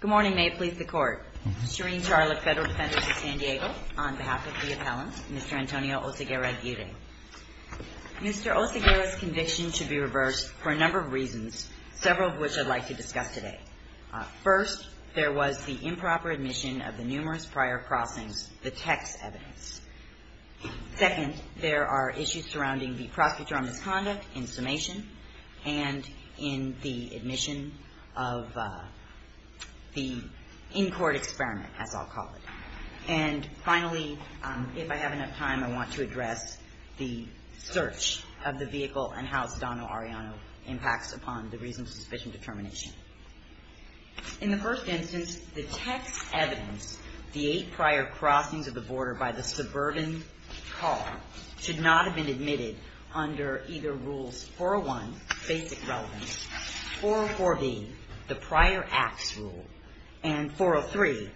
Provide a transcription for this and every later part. Good morning. May it please the Court. Shereen Charlotte, Federal Defender of San Diego, on behalf of the appellant, Mr. Antonio Oceguerra-Aguirre. Mr. Oceguerra's conviction should be reversed for a number of reasons, several of which I'd like to discuss today. First, there was the improper admission of the numerous prior crossings, the text evidence. Second, there are issues surrounding the prosecutor on misconduct in summation and in the admission of the in-court experiment, as I'll call it. And finally, if I have enough time, I want to address the search of the vehicle and how Sedano-Ariano impacts upon the reasons of suspicion determination. In the first instance, the text evidence, the eight prior crossings of the border by the suburban car, should not have been admitted under either rules 401, basic relevance, 404B, the prior acts rule, and 403,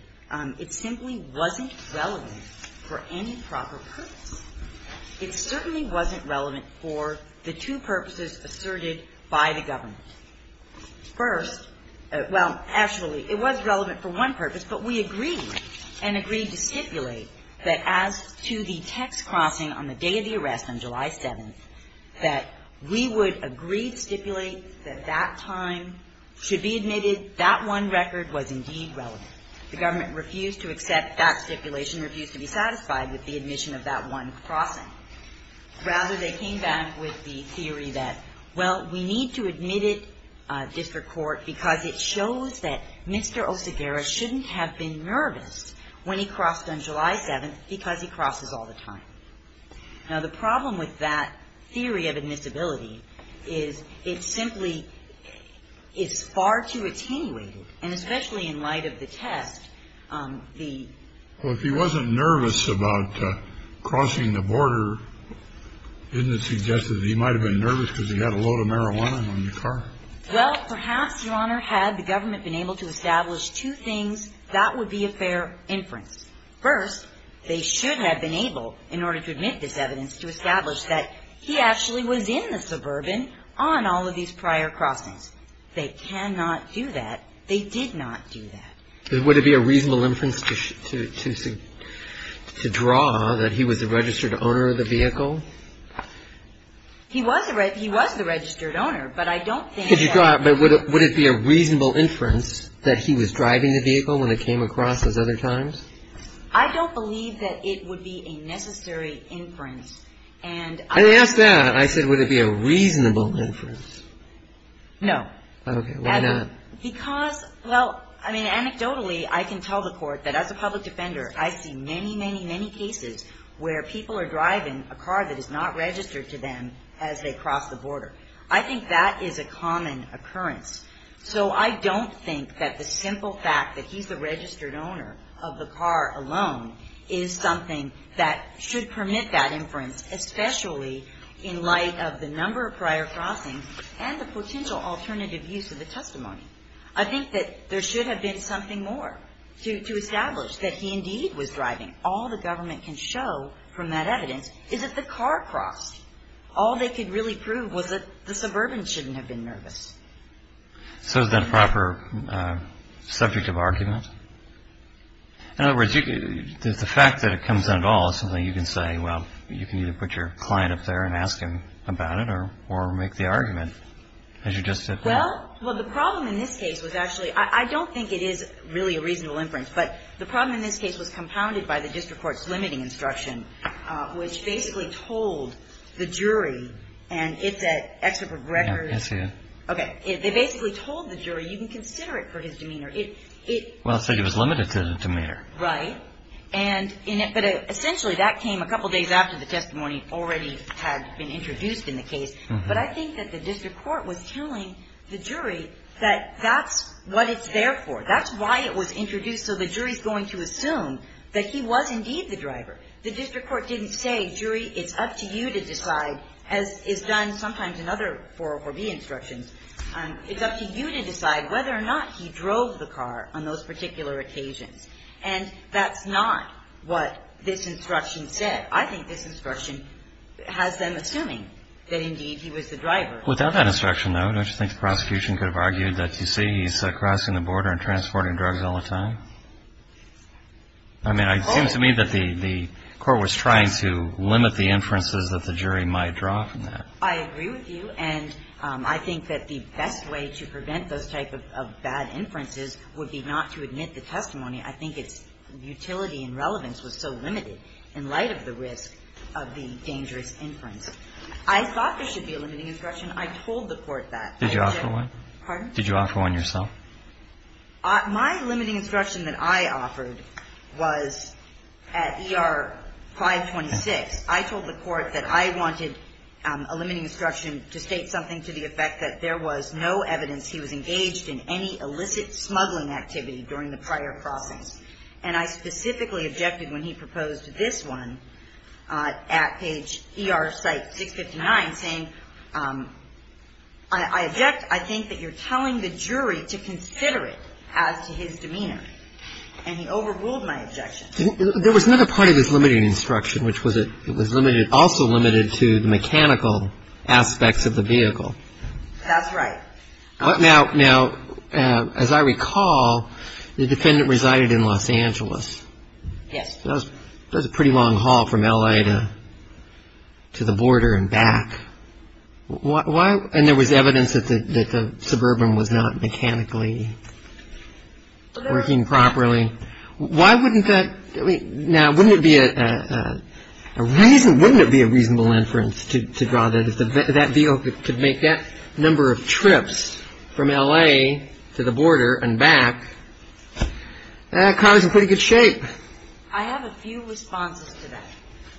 it simply wasn't relevant for any proper purpose. It certainly wasn't relevant for the two purposes asserted by the government. First, well, actually, it was relevant for one purpose, but we agreed and agreed to stipulate that as to the text crossing on the day of the arrest on July 7th, that we would agree to stipulate that that time should be admitted, that one record was indeed relevant. The government refused to accept that stipulation, refused to be satisfied with the admission of that one crossing. Rather, they came back with the theory that, well, we need to admit it, district court, because it shows that Mr. Osagara shouldn't have been nervous when he crossed on July 7th because he crosses all the time. Now, the problem with that theory of admissibility is it simply is far too attenuated, and especially in light of the test. Well, if he wasn't nervous about crossing the border, isn't it suggested he might have been nervous because he had a load of marijuana on the car? Well, perhaps, Your Honor, had the government been able to establish two things, that would be a fair inference. First, they should have been able, in order to admit this evidence, to establish that he actually was in the suburban on all of these prior crossings. They cannot do that. They did not do that. Would it be a reasonable inference to draw that he was the registered owner of the vehicle? He was the registered owner, but I don't think that he was. But would it be a reasonable inference that he was driving the vehicle when it came across as other times? I don't believe that it would be a necessary inference. And I asked that. I said, would it be a reasonable inference? No. Okay. Why not? Because, well, I mean, anecdotally, I can tell the Court that as a public defender, I see many, many, many cases where people are driving a car that is not registered to them as they cross the border. I think that is a common occurrence. So I don't think that the simple fact that he's the registered owner of the car alone is something that should permit that inference, especially in light of the number of prior crossings and the potential alternative use of the testimony. I think that there should have been something more to establish that he indeed was driving. All the government can show from that evidence is that the car crossed. All they could really prove was that the suburban shouldn't have been nervous. So is that a proper subject of argument? In other words, the fact that it comes out at all is something you can say, well, you can either put your client up there and ask him about it or make the argument, as you just did there. Well, the problem in this case was actually ‑‑ I don't think it is really a reasonable inference, but the problem in this case was compounded by the district court's limiting instruction, which basically told the jury, and it's at Excerpt of Records. Yes, it is. Okay. They basically told the jury, you can consider it for his demeanor. Well, it said he was limited to his demeanor. Right. But essentially that came a couple days after the testimony already had been introduced in the case. But I think that the district court was telling the jury that that's what it's there for. That's why it was introduced. So the jury is going to assume that he was indeed the driver. The district court didn't say, jury, it's up to you to decide, as is done sometimes in other 404B instructions. It's up to you to decide whether or not he drove the car on those particular occasions. And that's not what this instruction said. I think this instruction has them assuming that, indeed, he was the driver. Without that instruction, though, don't you think the prosecution could have argued that, as you see, he's crossing the border and transporting drugs all the time? I mean, it seems to me that the court was trying to limit the inferences that the jury might draw from that. I agree with you. And I think that the best way to prevent those type of bad inferences would be not to admit the testimony. I think its utility and relevance was so limited in light of the risk of the dangerous inference. I thought there should be a limiting instruction. I told the court that. Did you offer one? Pardon? Did you offer one yourself? My limiting instruction that I offered was at ER 526. I told the court that I wanted a limiting instruction to state something to the effect that there was no evidence he was engaged in any illicit smuggling activity during the prior process. And I specifically objected when he proposed this one at page ER site 659, saying I object. I think that you're telling the jury to consider it as to his demeanor. And he overruled my objection. There was another part of his limiting instruction, which was it was limited, also limited to the mechanical aspects of the vehicle. That's right. Now, as I recall, the defendant resided in Los Angeles. Yes. That was a pretty long haul from L.A. to the border and back. Why? And there was evidence that the Suburban was not mechanically working properly. Why wouldn't that? Now, wouldn't it be a reasonable inference to draw that if that vehicle could make that number of trips from L.A. to the border and back, that car's in pretty good shape. I have a few responses to that.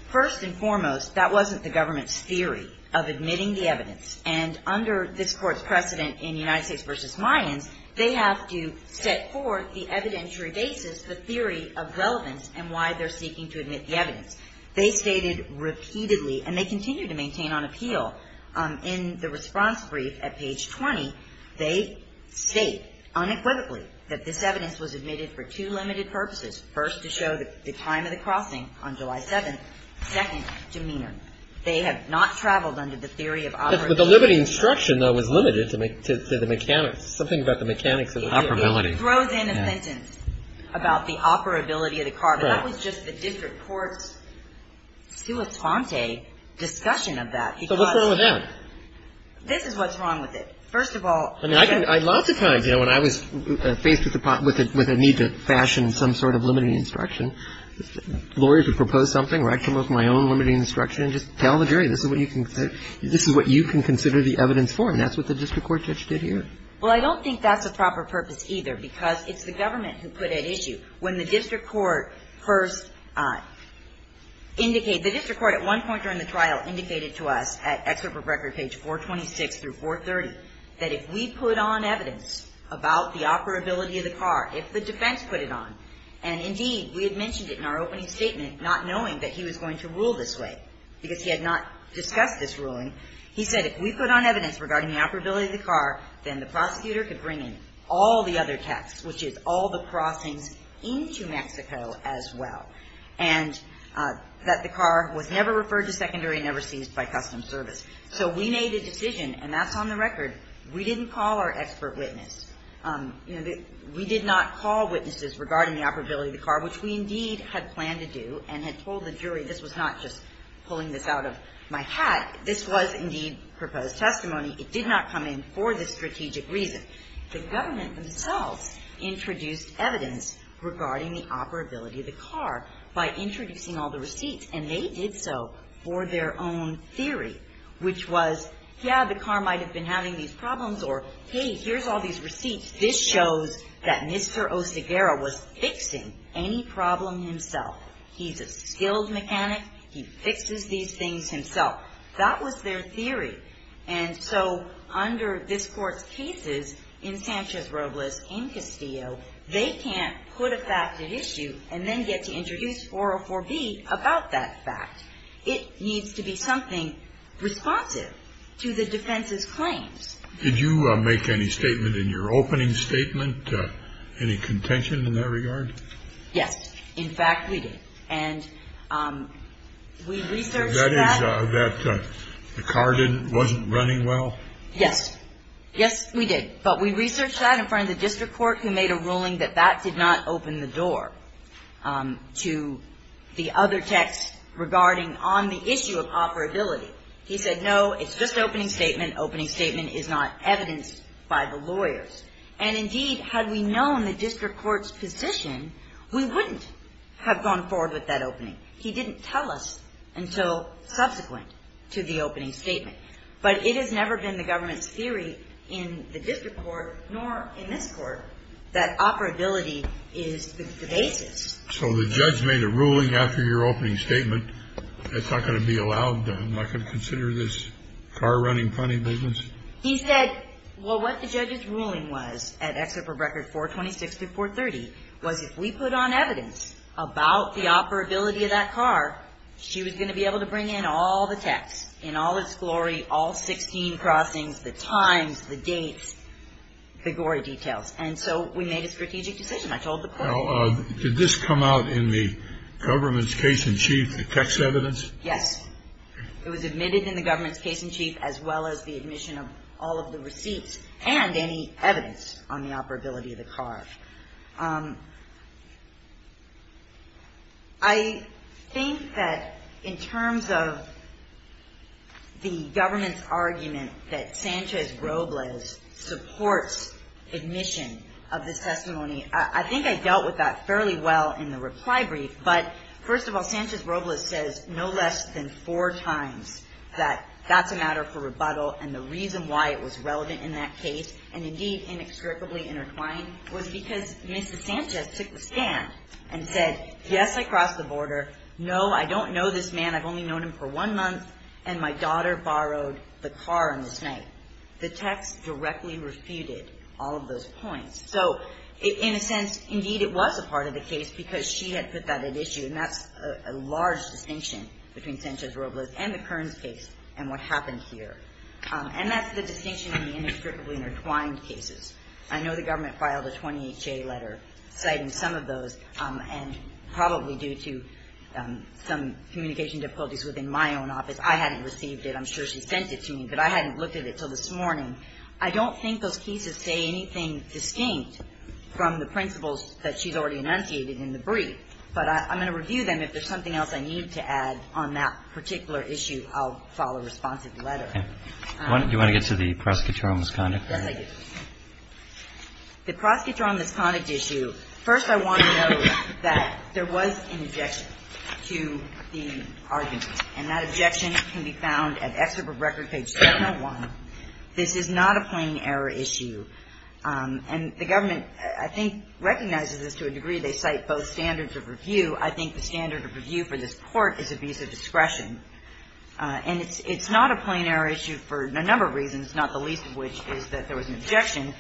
First and foremost, that wasn't the government's theory of admitting the evidence. And under this Court's precedent in United States v. Mayans, they have to set forth the evidentiary basis, the theory of relevance, and why they're seeking to admit the evidence. They stated repeatedly, and they continue to maintain on appeal, in the response brief at page 20, they state unequivocally that this evidence was admitted for two limited purposes. First, to show the time of the crossing on July 7th. Second, demeanor. They have not traveled under the theory of operability. But the limited instruction, though, was limited to the mechanics. Something about the mechanics of the vehicle. Operability. It throws in a sentence about the operability of the car. Correct. But that was just the district court's sui tante discussion of that. So what's wrong with that? First of all, because of the need to fashion it. I don't think that's a proper purpose, either, because it's the government who put at issue, when the district court first indicated the district court at one point during the trial indicated to us at excerpt from record page 426 through 430, that if we put on evidence about the operability of the car, if the defense could bring in all the other texts, which is all the crossings into Mexico as well, and that the car was never referred to secondary and never seized by custom service. So we made a decision, and that's on the record, we didn't call our expert We did not call witnesses regarding the crossings. We did not call witnesses regarding the operability of the car, which we indeed had planned to do and had told the jury this was not just pulling this out of my hat. This was indeed proposed testimony. It did not come in for this strategic reason. The government themselves introduced evidence regarding the operability of the car by introducing all the receipts, and they did so for their own theory, which was, yeah, the car might have been having these problems or, hey, here's all these receipts. This shows that Mr. Oseguera was fixing any problem himself. He's a skilled mechanic. He fixes these things himself. That was their theory. And so under this Court's cases, in Sanchez-Robles, in Castillo, they can't put a fact at issue and then get to introduce 404B about that fact. It needs to be something responsive to the defense's claims. Did you make any statement in your opening statement, any contention in that regard? Yes. In fact, we did. And we researched that. That is, that the car wasn't running well? Yes. Yes, we did. But we researched that in front of the district court, who made a ruling that that did not open the door to the other text regarding on the issue of operability. He said, no, it's just opening statement. Opening statement is not evidenced by the lawyers. And, indeed, had we known the district court's position, we wouldn't have gone forward with that opening. He didn't tell us until subsequent to the opening statement. But it has never been the government's theory in the district court, nor in this court, that operability is the basis. So the judge made a ruling after your opening statement, it's not going to be allowed, I'm not going to consider this car running funny business? He said, well, what the judge's ruling was at Exit for Record 426 through 430, was if we put on evidence about the operability of that car, she was going to be able to bring in all the text, in all its glory, all 16 crossings, the times, the dates, the gory details. And so we made a strategic decision. I told the court. Now, did this come out in the government's case in chief, the text evidence? Yes. It was admitted in the government's case in chief, as well as the admission of all of the receipts and any evidence on the operability of the car. I think that in terms of the government's argument that Sanchez-Robles supports admission of the testimony, I think I dealt with that fairly well in the reply brief. But first of all, Sanchez-Robles says no less than four times that that's a matter for rebuttal, and the reason why it was relevant in that case, and indeed inextricably intertwined, was because Mrs. Sanchez took the stand and said, yes, I crossed the border, no, I don't know this man, I've only known him for one month, and my daughter borrowed the car on this night. The text directly refuted all of those points. So in a sense, indeed, it was a part of the case because she had put that at issue, and that's a large distinction between Sanchez-Robles and the Kearns case and what happened here. And that's the distinction in the inextricably intertwined cases. I know the government filed a 20HA letter citing some of those, and probably due to some communication difficulties within my own office. I hadn't received it. I'm sure she sent it to me, but I hadn't looked at it until this morning. I don't think those cases say anything distinct from the principles that she's already enunciated in the brief, but I'm going to review them. If there's something else I need to add on that particular issue, I'll file a responsive letter. Okay. Do you want to get to the prosecutor on misconduct? Yes, I do. The prosecutor on misconduct issue, first I want to note that there was an objection to the argument, and that objection can be found at Excerpt of Record, page 701. This is not a plain error issue. And the government, I think, recognizes this to a degree. They cite both standards of review. I think the standard of review for this Court is abuse of discretion. And it's not a plain error issue for a number of reasons, not the least of which is that there was an objection.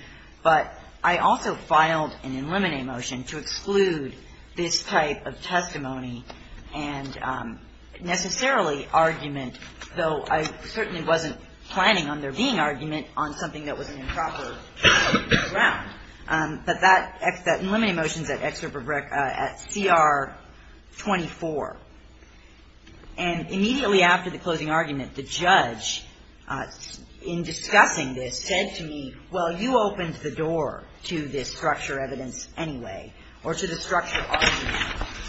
But I also filed an eliminate motion to exclude this type of testimony and necessarily the argument, though I certainly wasn't planning on there being argument on something that was an improper ground. But that eliminate motion is at Excerpt of Record, at CR 24. And immediately after the closing argument, the judge, in discussing this, said to me, well, you opened the door to this structure evidence anyway, or to the structure argument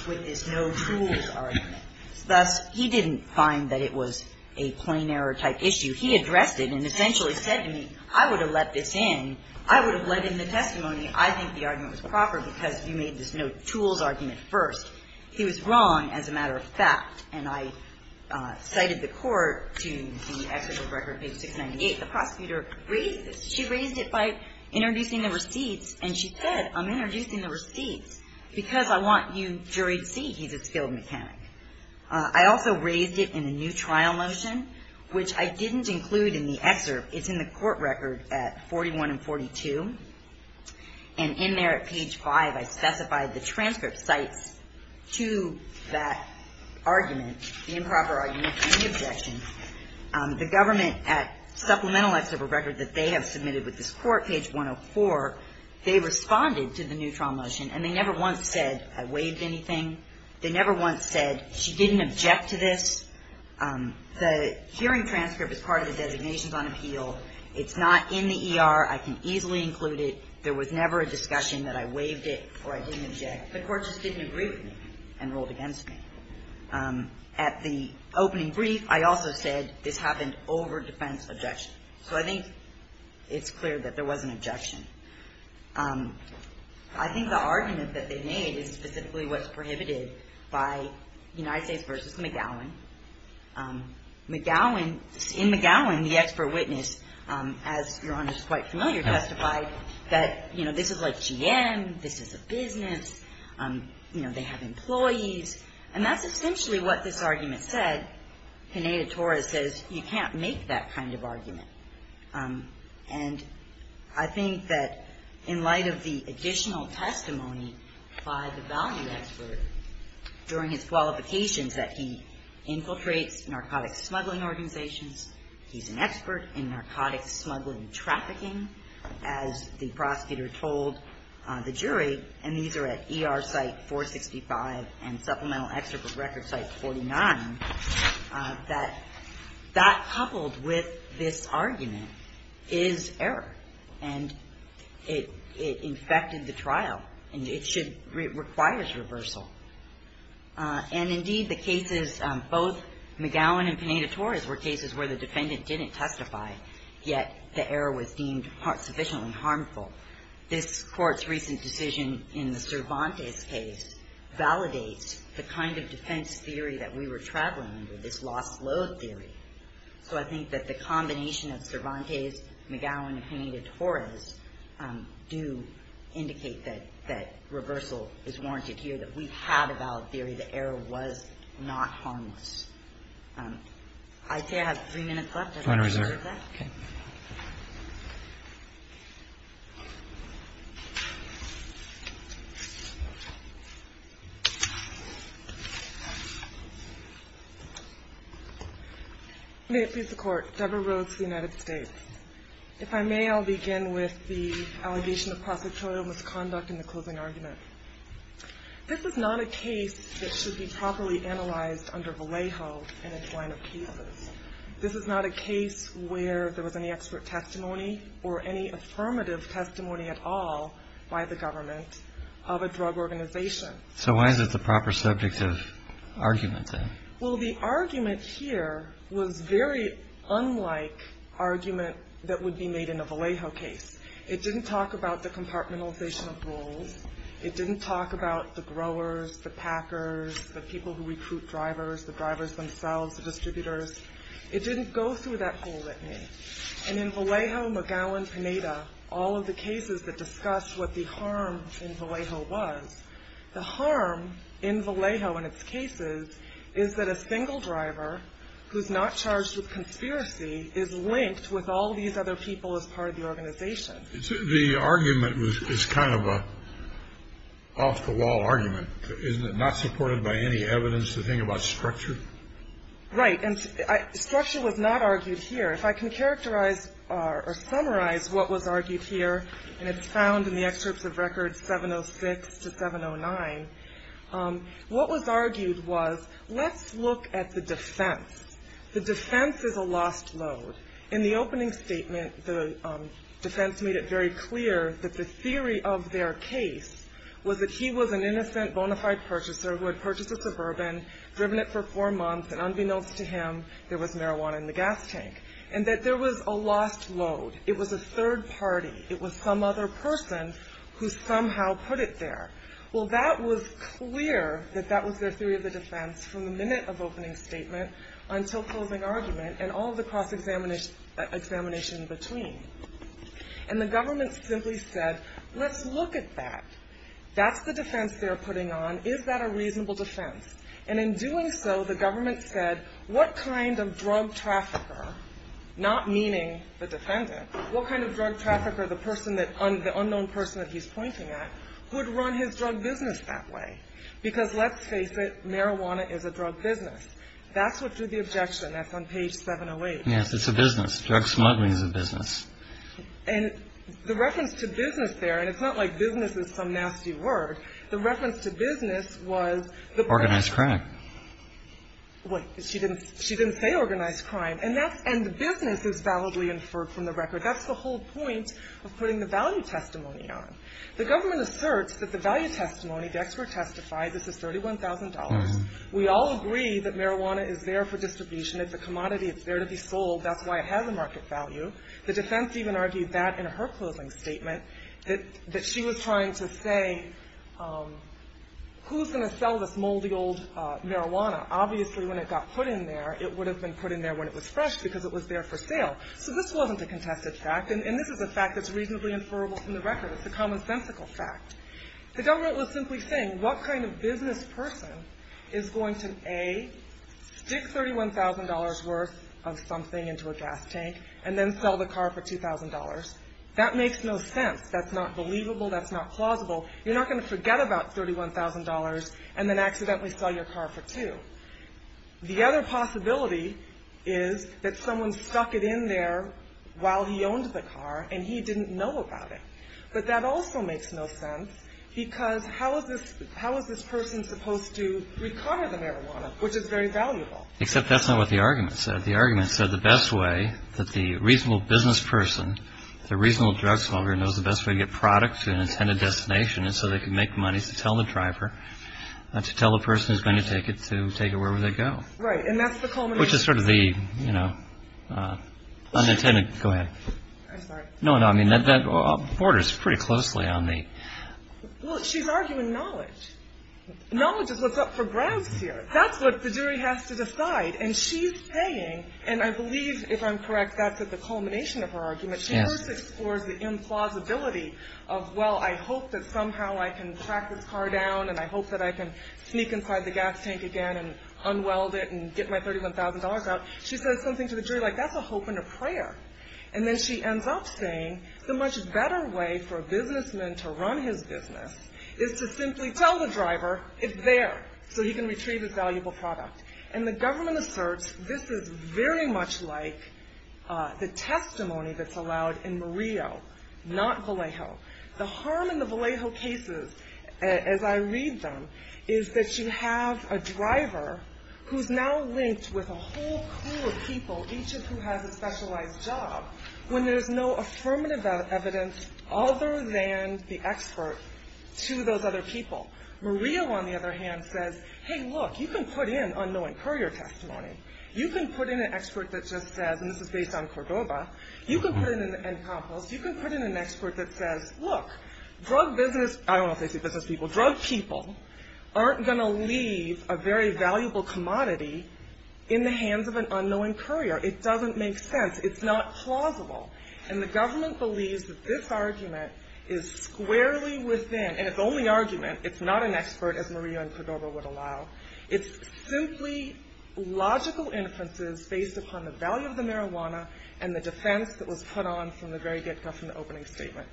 with this no-tools argument. Thus, he didn't find that it was a plain error type issue. He addressed it and essentially said to me, I would have let this in. I would have let in the testimony. I think the argument was proper because you made this no-tools argument first. He was wrong as a matter of fact. And I cited the Court to the Excerpt of Record, page 698. The prosecutor raised this. She raised it by introducing the receipts. And she said, I'm introducing the receipts because I want you juried see he's a skilled jury mechanic. I also raised it in a new trial motion, which I didn't include in the excerpt. It's in the court record at 41 and 42. And in there at page 5, I specified the transcript cites to that argument, the improper argument and the objection. The government, at Supplemental Excerpt of Record that they have submitted with this court, page 104, they responded to the new trial motion. And they never once said I waived anything. They never once said she didn't object to this. The hearing transcript is part of the designations on appeal. It's not in the ER. I can easily include it. There was never a discussion that I waived it or I didn't object. The Court just didn't agree with me and rolled against me. At the opening brief, I also said this happened over defense objection. So I think it's clear that there was an objection. I think the argument that they made is specifically what's prohibited by United States v. McGowan. McGowan, in McGowan, the expert witness, as Your Honor is quite familiar, testified that, you know, this is like GM, this is a business, you know, they have employees. And that's essentially what this argument said. Pineda-Torres says you can't make that kind of argument. And I think that in light of the additional testimony by the value expert during his qualifications that he infiltrates narcotic smuggling organizations, he's an expert in narcotic smuggling trafficking, as the prosecutor told the jury, and these are at ER Site 465 and Supplemental Excerpt at Record Site 49, that that coupled with this argument is error. And it infected the trial. And it should require reversal. And indeed, the cases, both McGowan and Pineda-Torres were cases where the defendant didn't testify, yet the error was deemed sufficiently harmful. This Court's recent decision in the Cervantes case validates the kind of defense theory that we were traveling under, this lost load theory. So I think that the combination of Cervantes, McGowan, and Pineda-Torres do indicate that reversal is warranted here, that we had a valid theory, the error was not harmless. I'd say I have three minutes left. Final reserve. May it please the Court. Deborah Rhodes, United States. If I may, I'll begin with the allegation of prosecutorial misconduct in the closing argument. This is not a case that should be properly analyzed under Vallejo in its line of cases. This is not a case where there was any expert testimony or any affirmative testimony at all by the government of a drug organization. So why is it the proper subject of argument, then? Well, the argument here was very unlike argument that would be made in a Vallejo case. It didn't talk about the compartmentalization of rules. It didn't talk about the growers, the packers, the people who recruit drivers, the drivers themselves, the distributors. It didn't go through that whole litany. And in Vallejo, McGowan, Pineda, all of the cases that discuss what the harm in Vallejo was, the harm in Vallejo in its cases is that a single driver who's not charged with conspiracy is linked with all these other people as part of the organization. The argument is kind of an off-the-wall argument, isn't it? By any evidence, the thing about structure? Right. And structure was not argued here. If I can characterize or summarize what was argued here, and it's found in the excerpts of records 706 to 709, what was argued was, let's look at the defense. The defense is a lost load. In the opening statement, the defense made it very clear that the theory of their case was that he was an innocent bona fide purchaser who had purchased a suburban, driven it for four months, and unbeknownst to him, there was marijuana in the gas tank, and that there was a lost load. It was a third party. It was some other person who somehow put it there. Well, that was clear that that was their theory of the defense from the minute of opening statement until closing argument and all of the cross-examination in between. And the government simply said, let's look at that. That's the defense they're putting on. Is that a reasonable defense? And in doing so, the government said, what kind of drug trafficker, not meaning the defendant, what kind of drug trafficker, the unknown person that he's pointing at, would run his drug business that way? Because let's face it, marijuana is a drug business. That's what drew the objection. That's on page 708. Yes, it's a business. Drug smuggling is a business. And the reference to business there, and it's not like business is some nasty word. The reference to business was the business. Organized crime. Wait. She didn't say organized crime. And the business is validly inferred from the record. That's the whole point of putting the value testimony on. The government asserts that the value testimony, the expert testified, this is $31,000. We all agree that marijuana is there for distribution. It's a commodity. It's there to be sold. That's why it has a market value. The defense even argued that in her closing statement, that she was trying to say, who's going to sell this moldy old marijuana? Obviously, when it got put in there, it would have been put in there when it was fresh because it was there for sale. So this wasn't a contested fact. And this is a fact that's reasonably inferrable from the record. It's a commonsensical fact. The government was simply saying, what kind of business person is going to, A, stick $31,000 worth of something into a gas tank and then sell the car for $2,000? That makes no sense. That's not believable. That's not plausible. You're not going to forget about $31,000 and then accidentally sell your car for two. The other possibility is that someone stuck it in there while he owned the car, and he didn't know about it. But that also makes no sense because how is this person supposed to require the marijuana, which is very valuable? Except that's not what the argument said. The argument said the best way that the reasonable business person, the reasonable drug smuggler, knows the best way to get products to an intended destination is so they can make money to tell the driver, to tell the person who's going to take it to take it wherever they go. Right. And that's the culmination. Which is sort of the, you know, unintended. Go ahead. I'm sorry. No, no. I mean, that borders pretty closely on the... Well, she's arguing knowledge. Knowledge is what's up for grabs here. That's what the jury has to decide. And she's saying, and I believe, if I'm correct, that's at the culmination of her argument. Yes. She first explores the implausibility of, well, I hope that somehow I can track this car down, and I hope that I can sneak inside the gas tank again and unweld it and get my $31,000 out. She says something to the jury like that's a hope and a prayer. And then she ends up saying the much better way for a businessman to run his business is to simply tell the driver it's there so he can retrieve his valuable product. And the government asserts this is very much like the testimony that's allowed in Murillo, not Vallejo. The harm in the Vallejo cases, as I read them, is that you have a driver who's now linked with a whole crew of people, each of whom has a specialized job, when there's no affirmative evidence other than the expert to those other people. Murillo, on the other hand, says, hey, look, you can put in unknowing courier testimony. You can put in an expert that just says, and this is based on Cordova, you can put in an expert that says, look, drug business, I don't know if they see business people, drug people aren't going to leave a very valuable commodity in the hands of an unknowing courier. It doesn't make sense. It's not plausible. And the government believes that this argument is squarely within, and it's only argument, it's not an expert as Murillo and Cordova would allow. It's simply logical inferences based upon the value of the marijuana and the defense that was put on from the very get-go from the opening statement.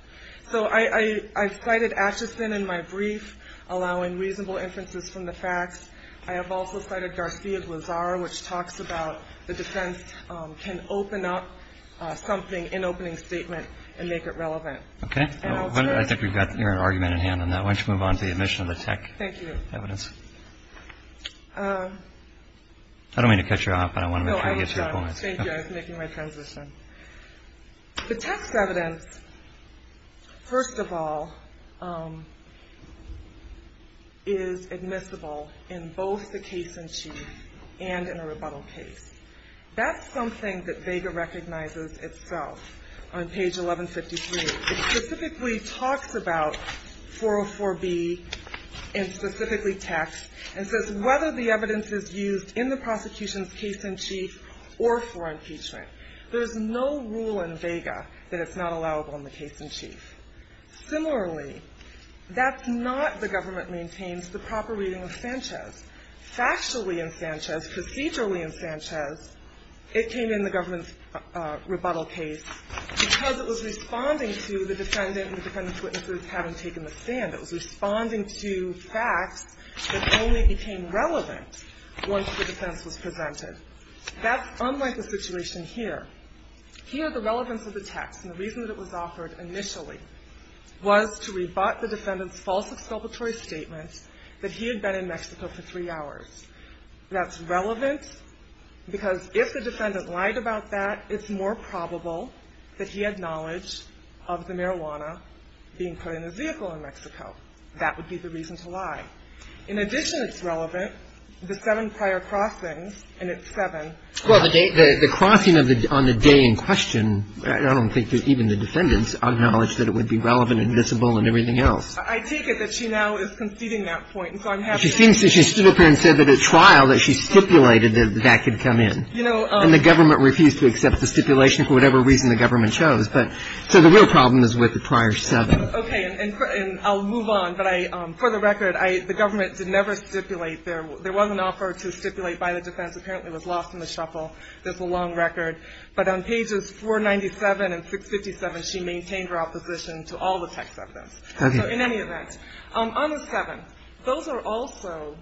So I cited Asheson in my brief, allowing reasonable inferences from the facts. I have also cited Garcia-Glazar, which talks about the defense can open up something in opening statement and make it relevant. And I'll turn to you. Okay. I think we've got your argument in hand on that. Why don't you move on to the admission of the tech evidence. Thank you. I don't mean to cut you off, but I want to make sure you get to your point. No, I was making my transition. The tech evidence, first of all, is admissible in both the case in chief and in a rebuttal case. That's something that Vega recognizes itself on page 1153. It specifically talks about 404B and specifically techs and says whether the evidence is used in the prosecution's case in chief or for impeachment. There's no rule in Vega that it's not allowable in the case in chief. Similarly, that's not, the government maintains, the proper reading of Sanchez. Factually in Sanchez, procedurally in Sanchez, it came in the government's rebuttal case because it was responding to the defendant and the defendant's witnesses having taken the stand. It was responding to facts that only became relevant once the defense was presented. That's unlike the situation here. Here, the relevance of the text and the reason that it was offered initially was to rebut the defendant's false exculpatory statements that he had been in Mexico for three hours. That's relevant because if the defendant lied about that, it's more probable that he had knowledge of the marijuana being put in his vehicle in Mexico. That would be the reason to lie. In addition, it's relevant, the seven prior crossings, and it's seven. Well, the crossing on the day in question, I don't think even the defendants acknowledged that it would be relevant and visible and everything else. I take it that she now is conceding that point. She seems to have stood up here and said that at trial that she stipulated that that could come in. And the government refused to accept the stipulation for whatever reason the government chose. So the real problem is with the prior seven. Okay. And I'll move on. But for the record, the government did never stipulate there. There was an offer to stipulate by the defense. Apparently it was lost in the shuffle. There's a long record. But on pages 497 and 657, she maintained her opposition to all the text of this. Okay. So in any event, on the seven, those are also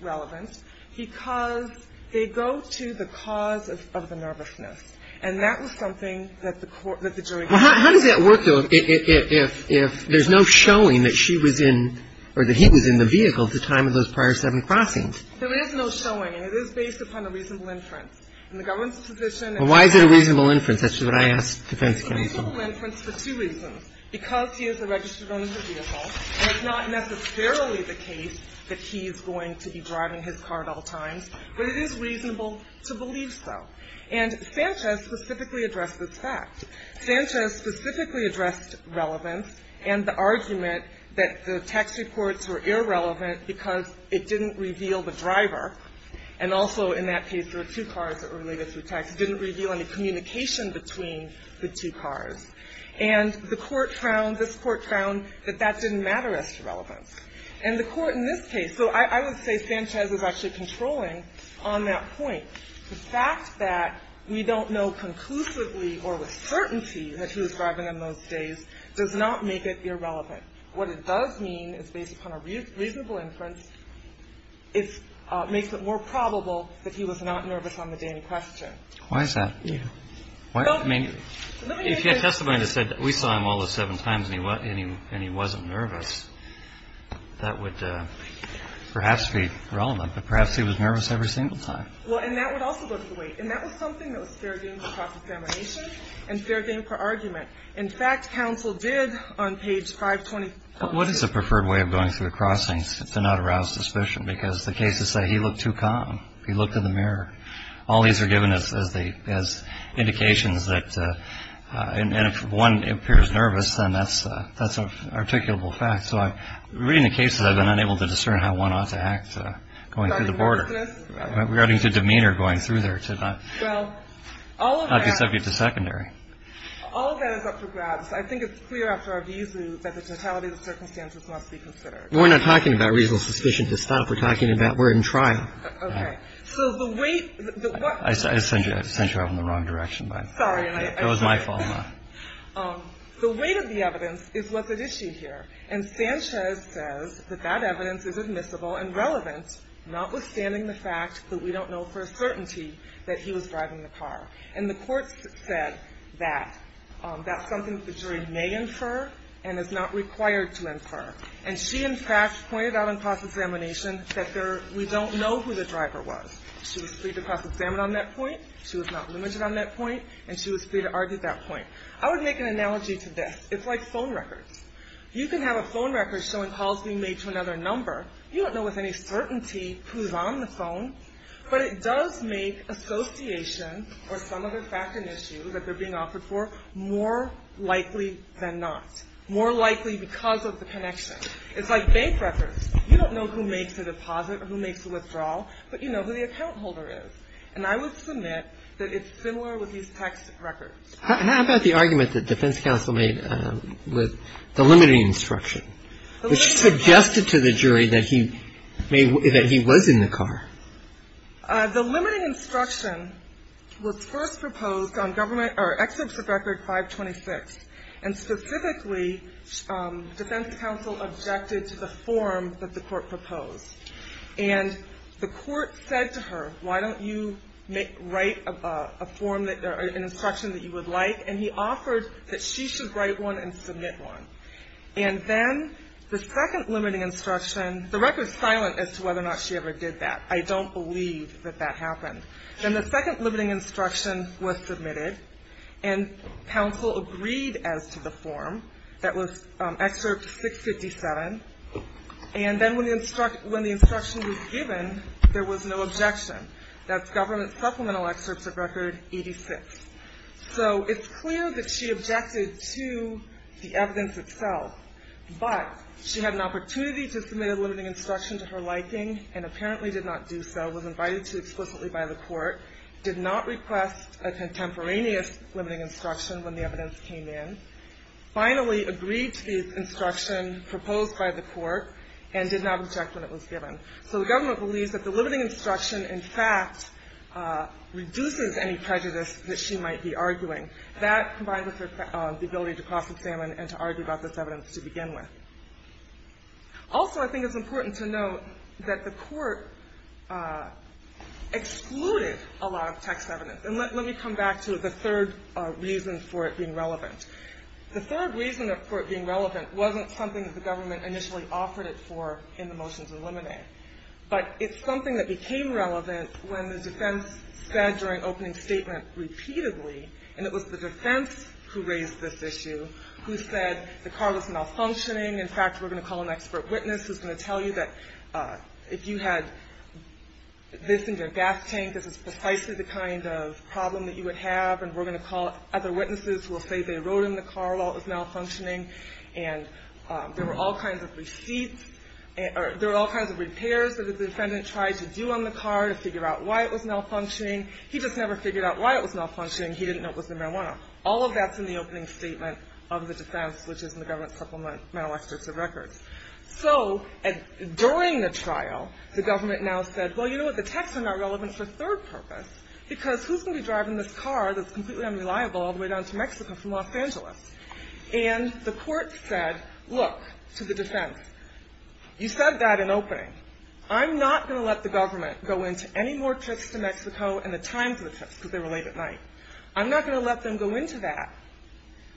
relevant because they go to the cause of the nervousness. And that was something that the jury found. Well, how does that work, though, if there's no showing that she was in or that he was in the vehicle at the time of those prior seven crossings? There is no showing. It is based upon a reasonable inference. And the government's position is that he was in the vehicle. Well, why is it a reasonable inference? That's what I asked defense counsel. It's a reasonable inference for two reasons. Because he is a registered owner of the vehicle, and it's not necessarily the case that he's going to be driving his car at all times, but it is reasonable to believe so. And Sanchez specifically addressed this fact. Sanchez specifically addressed relevance and the argument that the text reports were irrelevant because it didn't reveal the driver. And also, in that case, there were two cars that were related through text. It didn't reveal any communication between the two cars. And the Court found, this Court found, that that didn't matter as to relevance. And the Court in this case, so I would say Sanchez was actually controlling on that point. The fact that we don't know conclusively or with certainty that he was driving in those days does not make it irrelevant. What it does mean is based upon a reasonable inference, it makes it more probable that he was not nervous on the day in question. Why is that? I mean, if your testimony said we saw him all the seven times and he wasn't nervous, that would perhaps be relevant. But perhaps he was nervous every single time. Well, and that would also go to the weight. And that was something that was fair game for cross-examination and fair game for argument. In fact, counsel did on page 520. What is the preferred way of going through the crossings to not arouse suspicion? Because the cases say he looked too calm. He looked in the mirror. All these are given as indications that if one appears nervous, then that's an articulable fact. So reading the cases, I've been unable to discern how one ought to act going through the border, regarding the demeanor going through there to not be subject to secondary. All of that is up for grabs. I think it's clear after our views that the totality of the circumstances must be considered. We're not talking about reasonable suspicion. It's not what we're talking about. We're in trial. Okay. So the weight. I sent you off in the wrong direction. Sorry. It was my fault. The weight of the evidence is what's at issue here. And Sanchez says that that evidence is admissible and relevant, notwithstanding the fact that we don't know for a certainty that he was driving the car. And the court said that that's something that the jury may infer and is not required to infer. And she, in fact, pointed out in cross-examination that we don't know who the driver was. She was free to cross-examine on that point. She was not limited on that point. And she was free to argue that point. I would make an analogy to this. It's like phone records. You can have a phone record showing calls being made to another number. You don't know with any certainty who's on the phone. But it does make association or some other fact and issue that they're being offered for more likely than not, more likely because of the connection. It's like bank records. You don't know who makes a deposit or who makes a withdrawal, but you know who the account holder is. And I would submit that it's similar with these tax records. How about the argument that defense counsel made with the limiting instruction, which suggested to the jury that he was in the car? The limiting instruction was first proposed on government or Exhibit 526. And specifically, defense counsel objected to the form that the court proposed. And the court said to her, why don't you write an instruction that you would like? And he offered that she should write one and submit one. And then the second limiting instruction, the record is silent as to whether or not she ever did that. I don't believe that that happened. Then the second limiting instruction was submitted, and counsel agreed as to the form that was Excerpt 657. And then when the instruction was given, there was no objection. That's Government Supplemental Excerpts of Record 86. So it's clear that she objected to the evidence itself. But she had an opportunity to submit a limiting instruction to her liking and apparently did not do so, was invited to explicitly by the court, did not request a contemporaneous limiting instruction when the evidence came in, finally agreed to the instruction proposed by the court, and did not object when it was given. So the government believes that the limiting instruction, in fact, reduces any prejudice that she might be arguing. That, combined with the ability to cross-examine and to argue about this evidence to begin with. Also, I think it's important to note that the court excluded a lot of text evidence. And let me come back to the third reason for it being relevant. The third reason for it being relevant wasn't something that the government initially offered it for in the motion to eliminate. But it's something that became relevant when the defense said during opening statement repeatedly, and it was the defense who raised this issue, who said the car was malfunctioning. In fact, we're going to call an expert witness who's going to tell you that if you had this in your gas tank, this is precisely the kind of problem that you would have, and we're going to call other witnesses who will say they rode in the car while it was malfunctioning. And there were all kinds of receipts, or there were all kinds of repairs that the defendant tried to do on the car to figure out why it was malfunctioning. He just never figured out why it was malfunctioning. He didn't know it was the marijuana. All of that's in the opening statement of the defense, which is in the government supplemental experts of records. So during the trial, the government now said, well, you know what, the texts are not relevant for a third purpose. Because who's going to be driving this car that's completely unreliable all the way down to Mexico from Los Angeles? And the court said, look, to the defense, you said that in opening. I'm not going to let the government go into any more trips to Mexico and the times of the trips, because they were late at night. I'm not going to let them go into that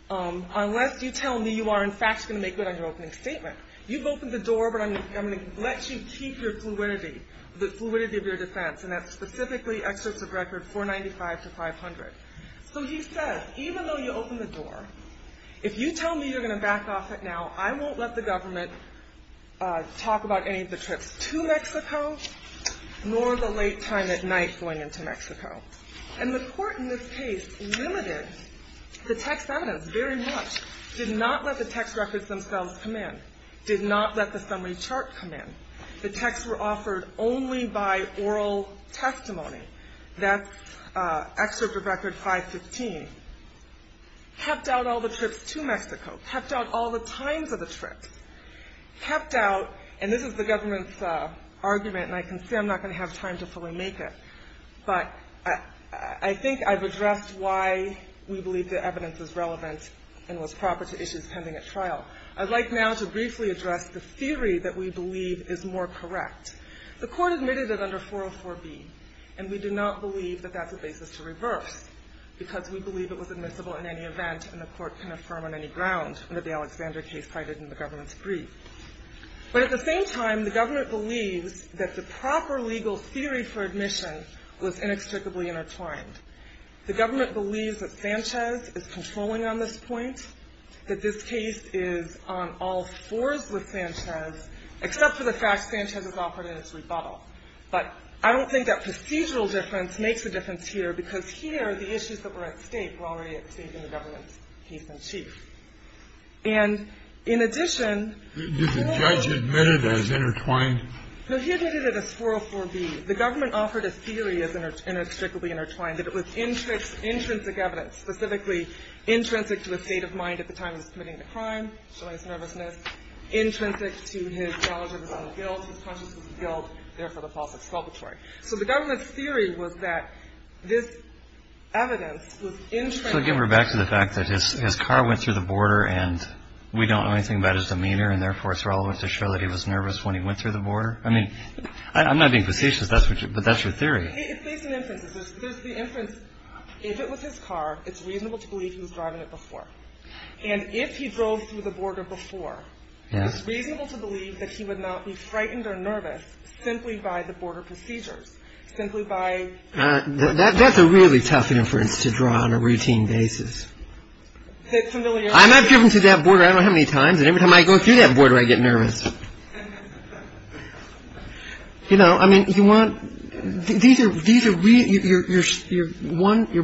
unless you tell me you are in fact going to make good on your opening statement. You've opened the door, but I'm going to let you keep your fluidity, the fluidity of your defense, and that's specifically experts of records 495 to 500. So he says, even though you opened the door, if you tell me you're going to back off it now, I won't let the government talk about any of the trips to Mexico, nor the late time at night going into Mexico. And the court in this case limited the text evidence very much, did not let the text records themselves come in, did not let the summary chart come in. The texts were offered only by oral testimony. That's excerpt of record 515. Kept out all the trips to Mexico. Kept out all the times of the trips. Kept out, and this is the government's argument, and I can say I'm not going to have time to fully make it, but I think I've addressed why we believe the evidence is relevant and was proper to issues pending at trial. I'd like now to briefly address the theory that we believe is more correct. The court admitted it under 404B, and we do not believe that that's a basis to reverse, because we believe it was admissible in any event, and the court can affirm on any ground that the Alexander case cited in the government's brief. But at the same time, the government believes that the proper legal theory for admission was inextricably intertwined. The government believes that Sanchez is controlling on this point, that this case is on all fours with Sanchez, except for the fact Sanchez is offered in its rebuttal. But I don't think that procedural difference makes a difference here, because here, the issues that were at stake were already at stake in the government's case in chief. And in addition, the court. Kennedy. Did the judge admit it as intertwined? No, he admitted it as 404B. The government offered a theory as inextricably intertwined, that it was intrinsic evidence, specifically intrinsic to his state of mind at the time he was committing the crime, showing his nervousness, intrinsic to his knowledge of his own guilt, his consciousness of guilt, therefore the false exculpatory. So the government's theory was that this evidence was intrinsic. So give her back to the fact that his car went through the border, and we don't know anything about his demeanor, and therefore it's relevant to show that he was nervous when he went through the border? I mean, I'm not being facetious, but that's your theory. There's an inference. There's the inference, if it was his car, it's reasonable to believe he was driving it before. And if he drove through the border before, it's reasonable to believe that he would not be frightened or nervous simply by the border procedures, simply by... That's a really tough inference to draw on a routine basis. I'm not driven through that border. I don't know how many times, and every time I go through that border, I get nervous. You know, I mean, you want, these are, you're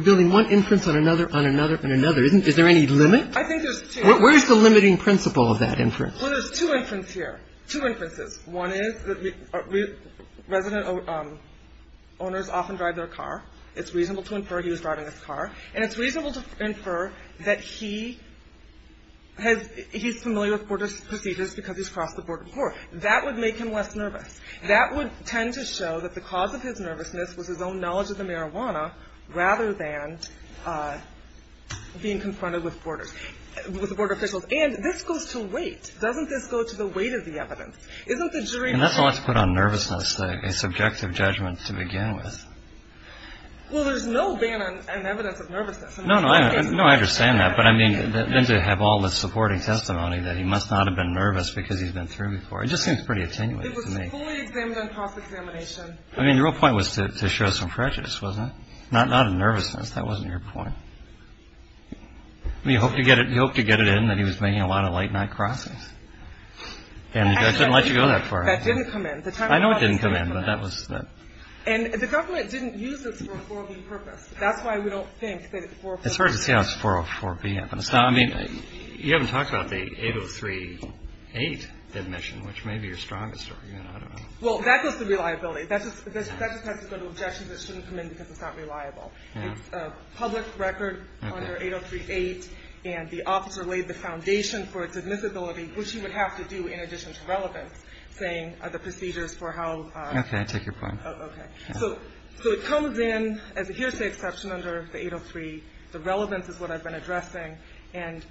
building one inference on another on another on another. Is there any limit? I think there's two. Where's the limiting principle of that inference? Well, there's two inferences here, two inferences. One is that resident owners often drive their car. It's reasonable to infer he was driving his car. And it's reasonable to infer that he has, he's familiar with border procedures because he's crossed the border before. That would make him less nervous. That would tend to show that the cause of his nervousness was his own knowledge of the marijuana rather than being confronted with border officials. And this goes to weight. Doesn't this go to the weight of the evidence? Isn't the jury... And that's all that's put on nervousness, a subjective judgment to begin with. Well, there's no ban on evidence of nervousness. No, no, I understand that. But I mean, then to have all this supporting testimony that he must not have been nervous because he's been through before. It just seems pretty attenuated to me. It was fully examined on cross-examination. I mean, the real point was to show some prejudice, wasn't it? Not a nervousness. That wasn't your point. He hoped to get it in that he was making a lot of late-night crossings. And he couldn't let you go that far. That didn't come in. I know it didn't come in, but that was... And the government didn't use this for a 404B purpose. That's why we don't think that it's 404B. It's hard to see how it's 404B. I mean, you haven't talked about the 803A admission, which may be your strongest argument. Well, that goes to reliability. That just has to go to objections that shouldn't come in because it's not reliable. It's a public record under 803A, and the officer laid the foundation for its admissibility, which he would have to do in addition to relevance, saying the procedures for how... Okay, I take your point. Okay. So it comes in as a hearsay exception under the 803. The relevance is what I've been addressing, and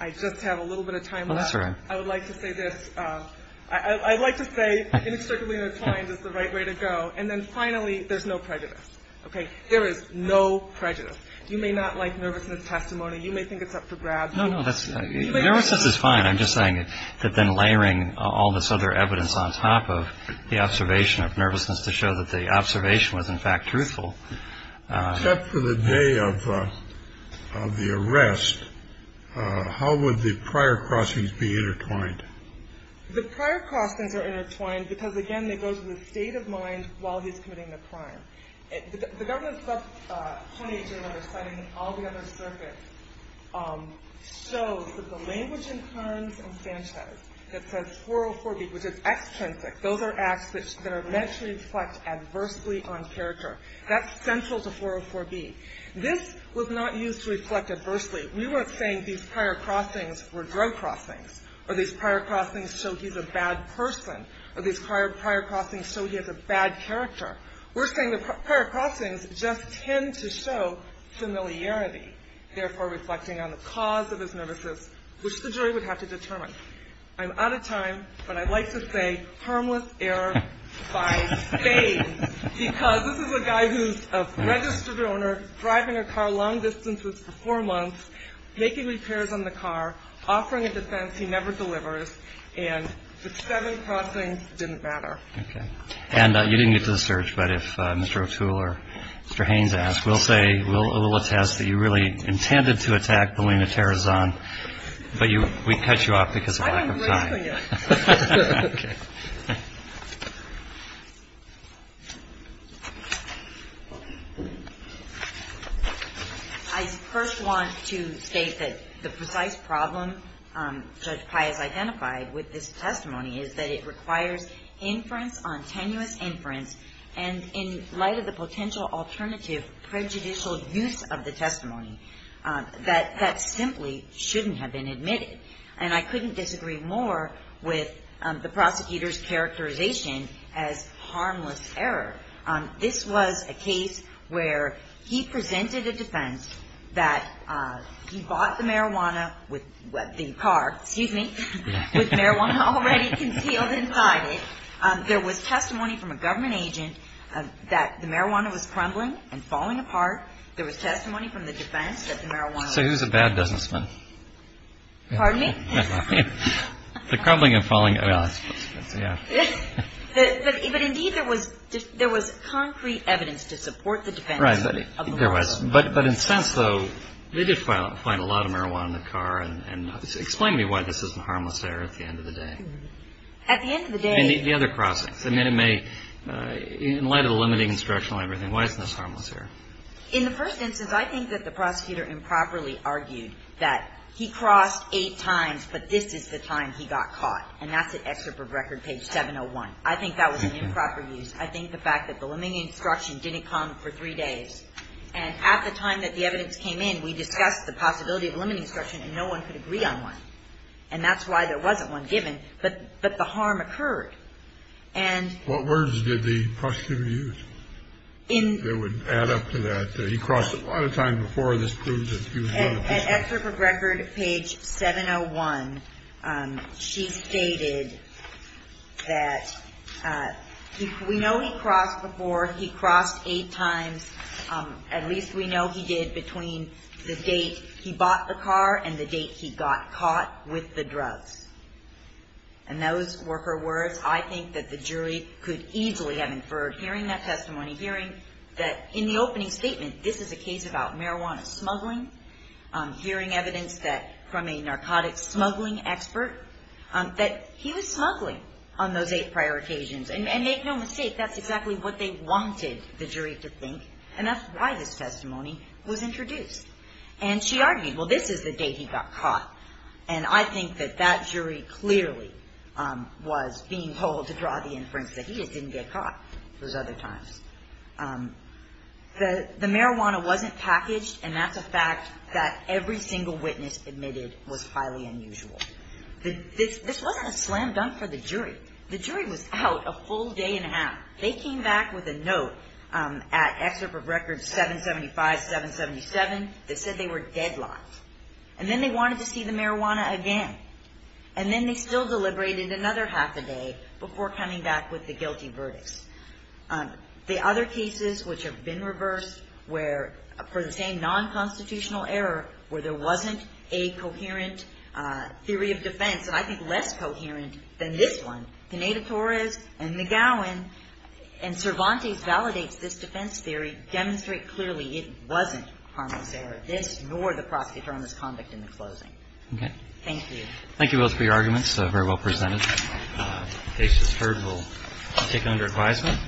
I just have a little bit of time left. I would like to say this. I'd like to say inextricably inclined is the right way to go. And then finally, there's no prejudice. Okay? There is no prejudice. You may not like nervousness testimony. You may think it's up for grabs. No, no. Nervousness is fine. I'm just saying that then layering all this other evidence on top of the observation of evidence to show that the observation was, in fact, truthful. Except for the day of the arrest, how would the prior crossings be intertwined? The prior crossings are intertwined because, again, it goes with the state of mind while he's committing the crime. The government's subpoena to another citing all the other circuits shows that the language in Karnes and Sanchez that says 404B, which is extrinsic, those are acts that are meant to reflect adversely on character. That's central to 404B. This was not used to reflect adversely. We weren't saying these prior crossings were drug crossings or these prior crossings show he's a bad person or these prior crossings show he has a bad character. We're saying the prior crossings just tend to show familiarity, therefore reflecting on the cause of his nervousness, which the jury would have to determine. I'm out of time, but I'd like to say harmless error by faith, because this is a guy who's a registered owner, driving a car long distances for four months, making repairs on the car, offering a defense he never delivers, and the seven crossings didn't matter. Okay. And you didn't get to the search, but if Mr. O'Toole or Mr. Haynes asks, we'll say, we'll attest that you really intended to attack Paulina Terrazon, but we cut you off because of lack of time. I'm waiting for you. Okay. I first want to state that the precise problem Judge Pai has identified with this testimony is that it requires inference on tenuous inference, and in light of the potential alternative prejudicial use of the testimony, that that simply shouldn't have been admitted. And I couldn't disagree more with the prosecutor's characterization as harmless error. This was a case where he presented a defense that he bought the marijuana with the car, excuse me, with marijuana already concealed inside it. There was testimony from a government agent that the marijuana was crumbling and falling apart. There was testimony from the defense that the marijuana was crumbling and falling apart. So who's a bad businessman? Pardon me? The crumbling and falling. But, indeed, there was concrete evidence to support the defense. Right. There was. But in a sense, though, they did find a lot of marijuana in the car, and explain to me why this isn't harmless error at the end of the day. At the end of the day. And the other crossings. In light of the limiting instruction on everything, why isn't this harmless error? In the first instance, I think that the prosecutor improperly argued that he crossed eight times, but this is the time he got caught. And that's at Excerpt from Record, page 701. I think that was an improper use. I think the fact that the limiting instruction didn't come for three days. And at the time that the evidence came in, we discussed the possibility of limiting instruction, and no one could agree on one. And that's why there wasn't one given. But the harm occurred. And. What words did the prosecutor use that would add up to that? He crossed a lot of times before. This proves it. At Excerpt from Record, page 701, she stated that we know he crossed before. He crossed eight times. At least we know he did between the date he bought the car and the date he got caught with the drugs. And those were her words. I think that the jury could easily have inferred, hearing that testimony, hearing that in the opening statement, this is a case about marijuana smuggling, hearing evidence that from a narcotics smuggling expert, that he was smuggling on those eight prior occasions. And make no mistake, that's exactly what they wanted the jury to think. And that's why this testimony was introduced. And she argued, well, this is the date he got caught. And I think that that jury clearly was being told to draw the inference that he just didn't get caught those other times. The marijuana wasn't packaged, and that's a fact that every single witness admitted was highly unusual. This wasn't a slam dunk for the jury. The jury was out a full day and a half. They came back with a note at Excerpt of Record 775, 777 that said they were deadlocked. And then they wanted to see the marijuana again. And then they still deliberated another half a day before coming back with the guilty verdicts. The other cases which have been reversed where, for the same non-constitutional error, where there wasn't a coherent theory of defense, and I think less coherent than this one, Pineda-Torres and McGowan and Cervantes validates this defense theory, demonstrates clearly it wasn't harmless error, this nor the prosecutor on this conduct in the closing. Thank you. Roberts. Thank you both for your arguments. They were very well presented. In case it's heard, we'll take it under advisement.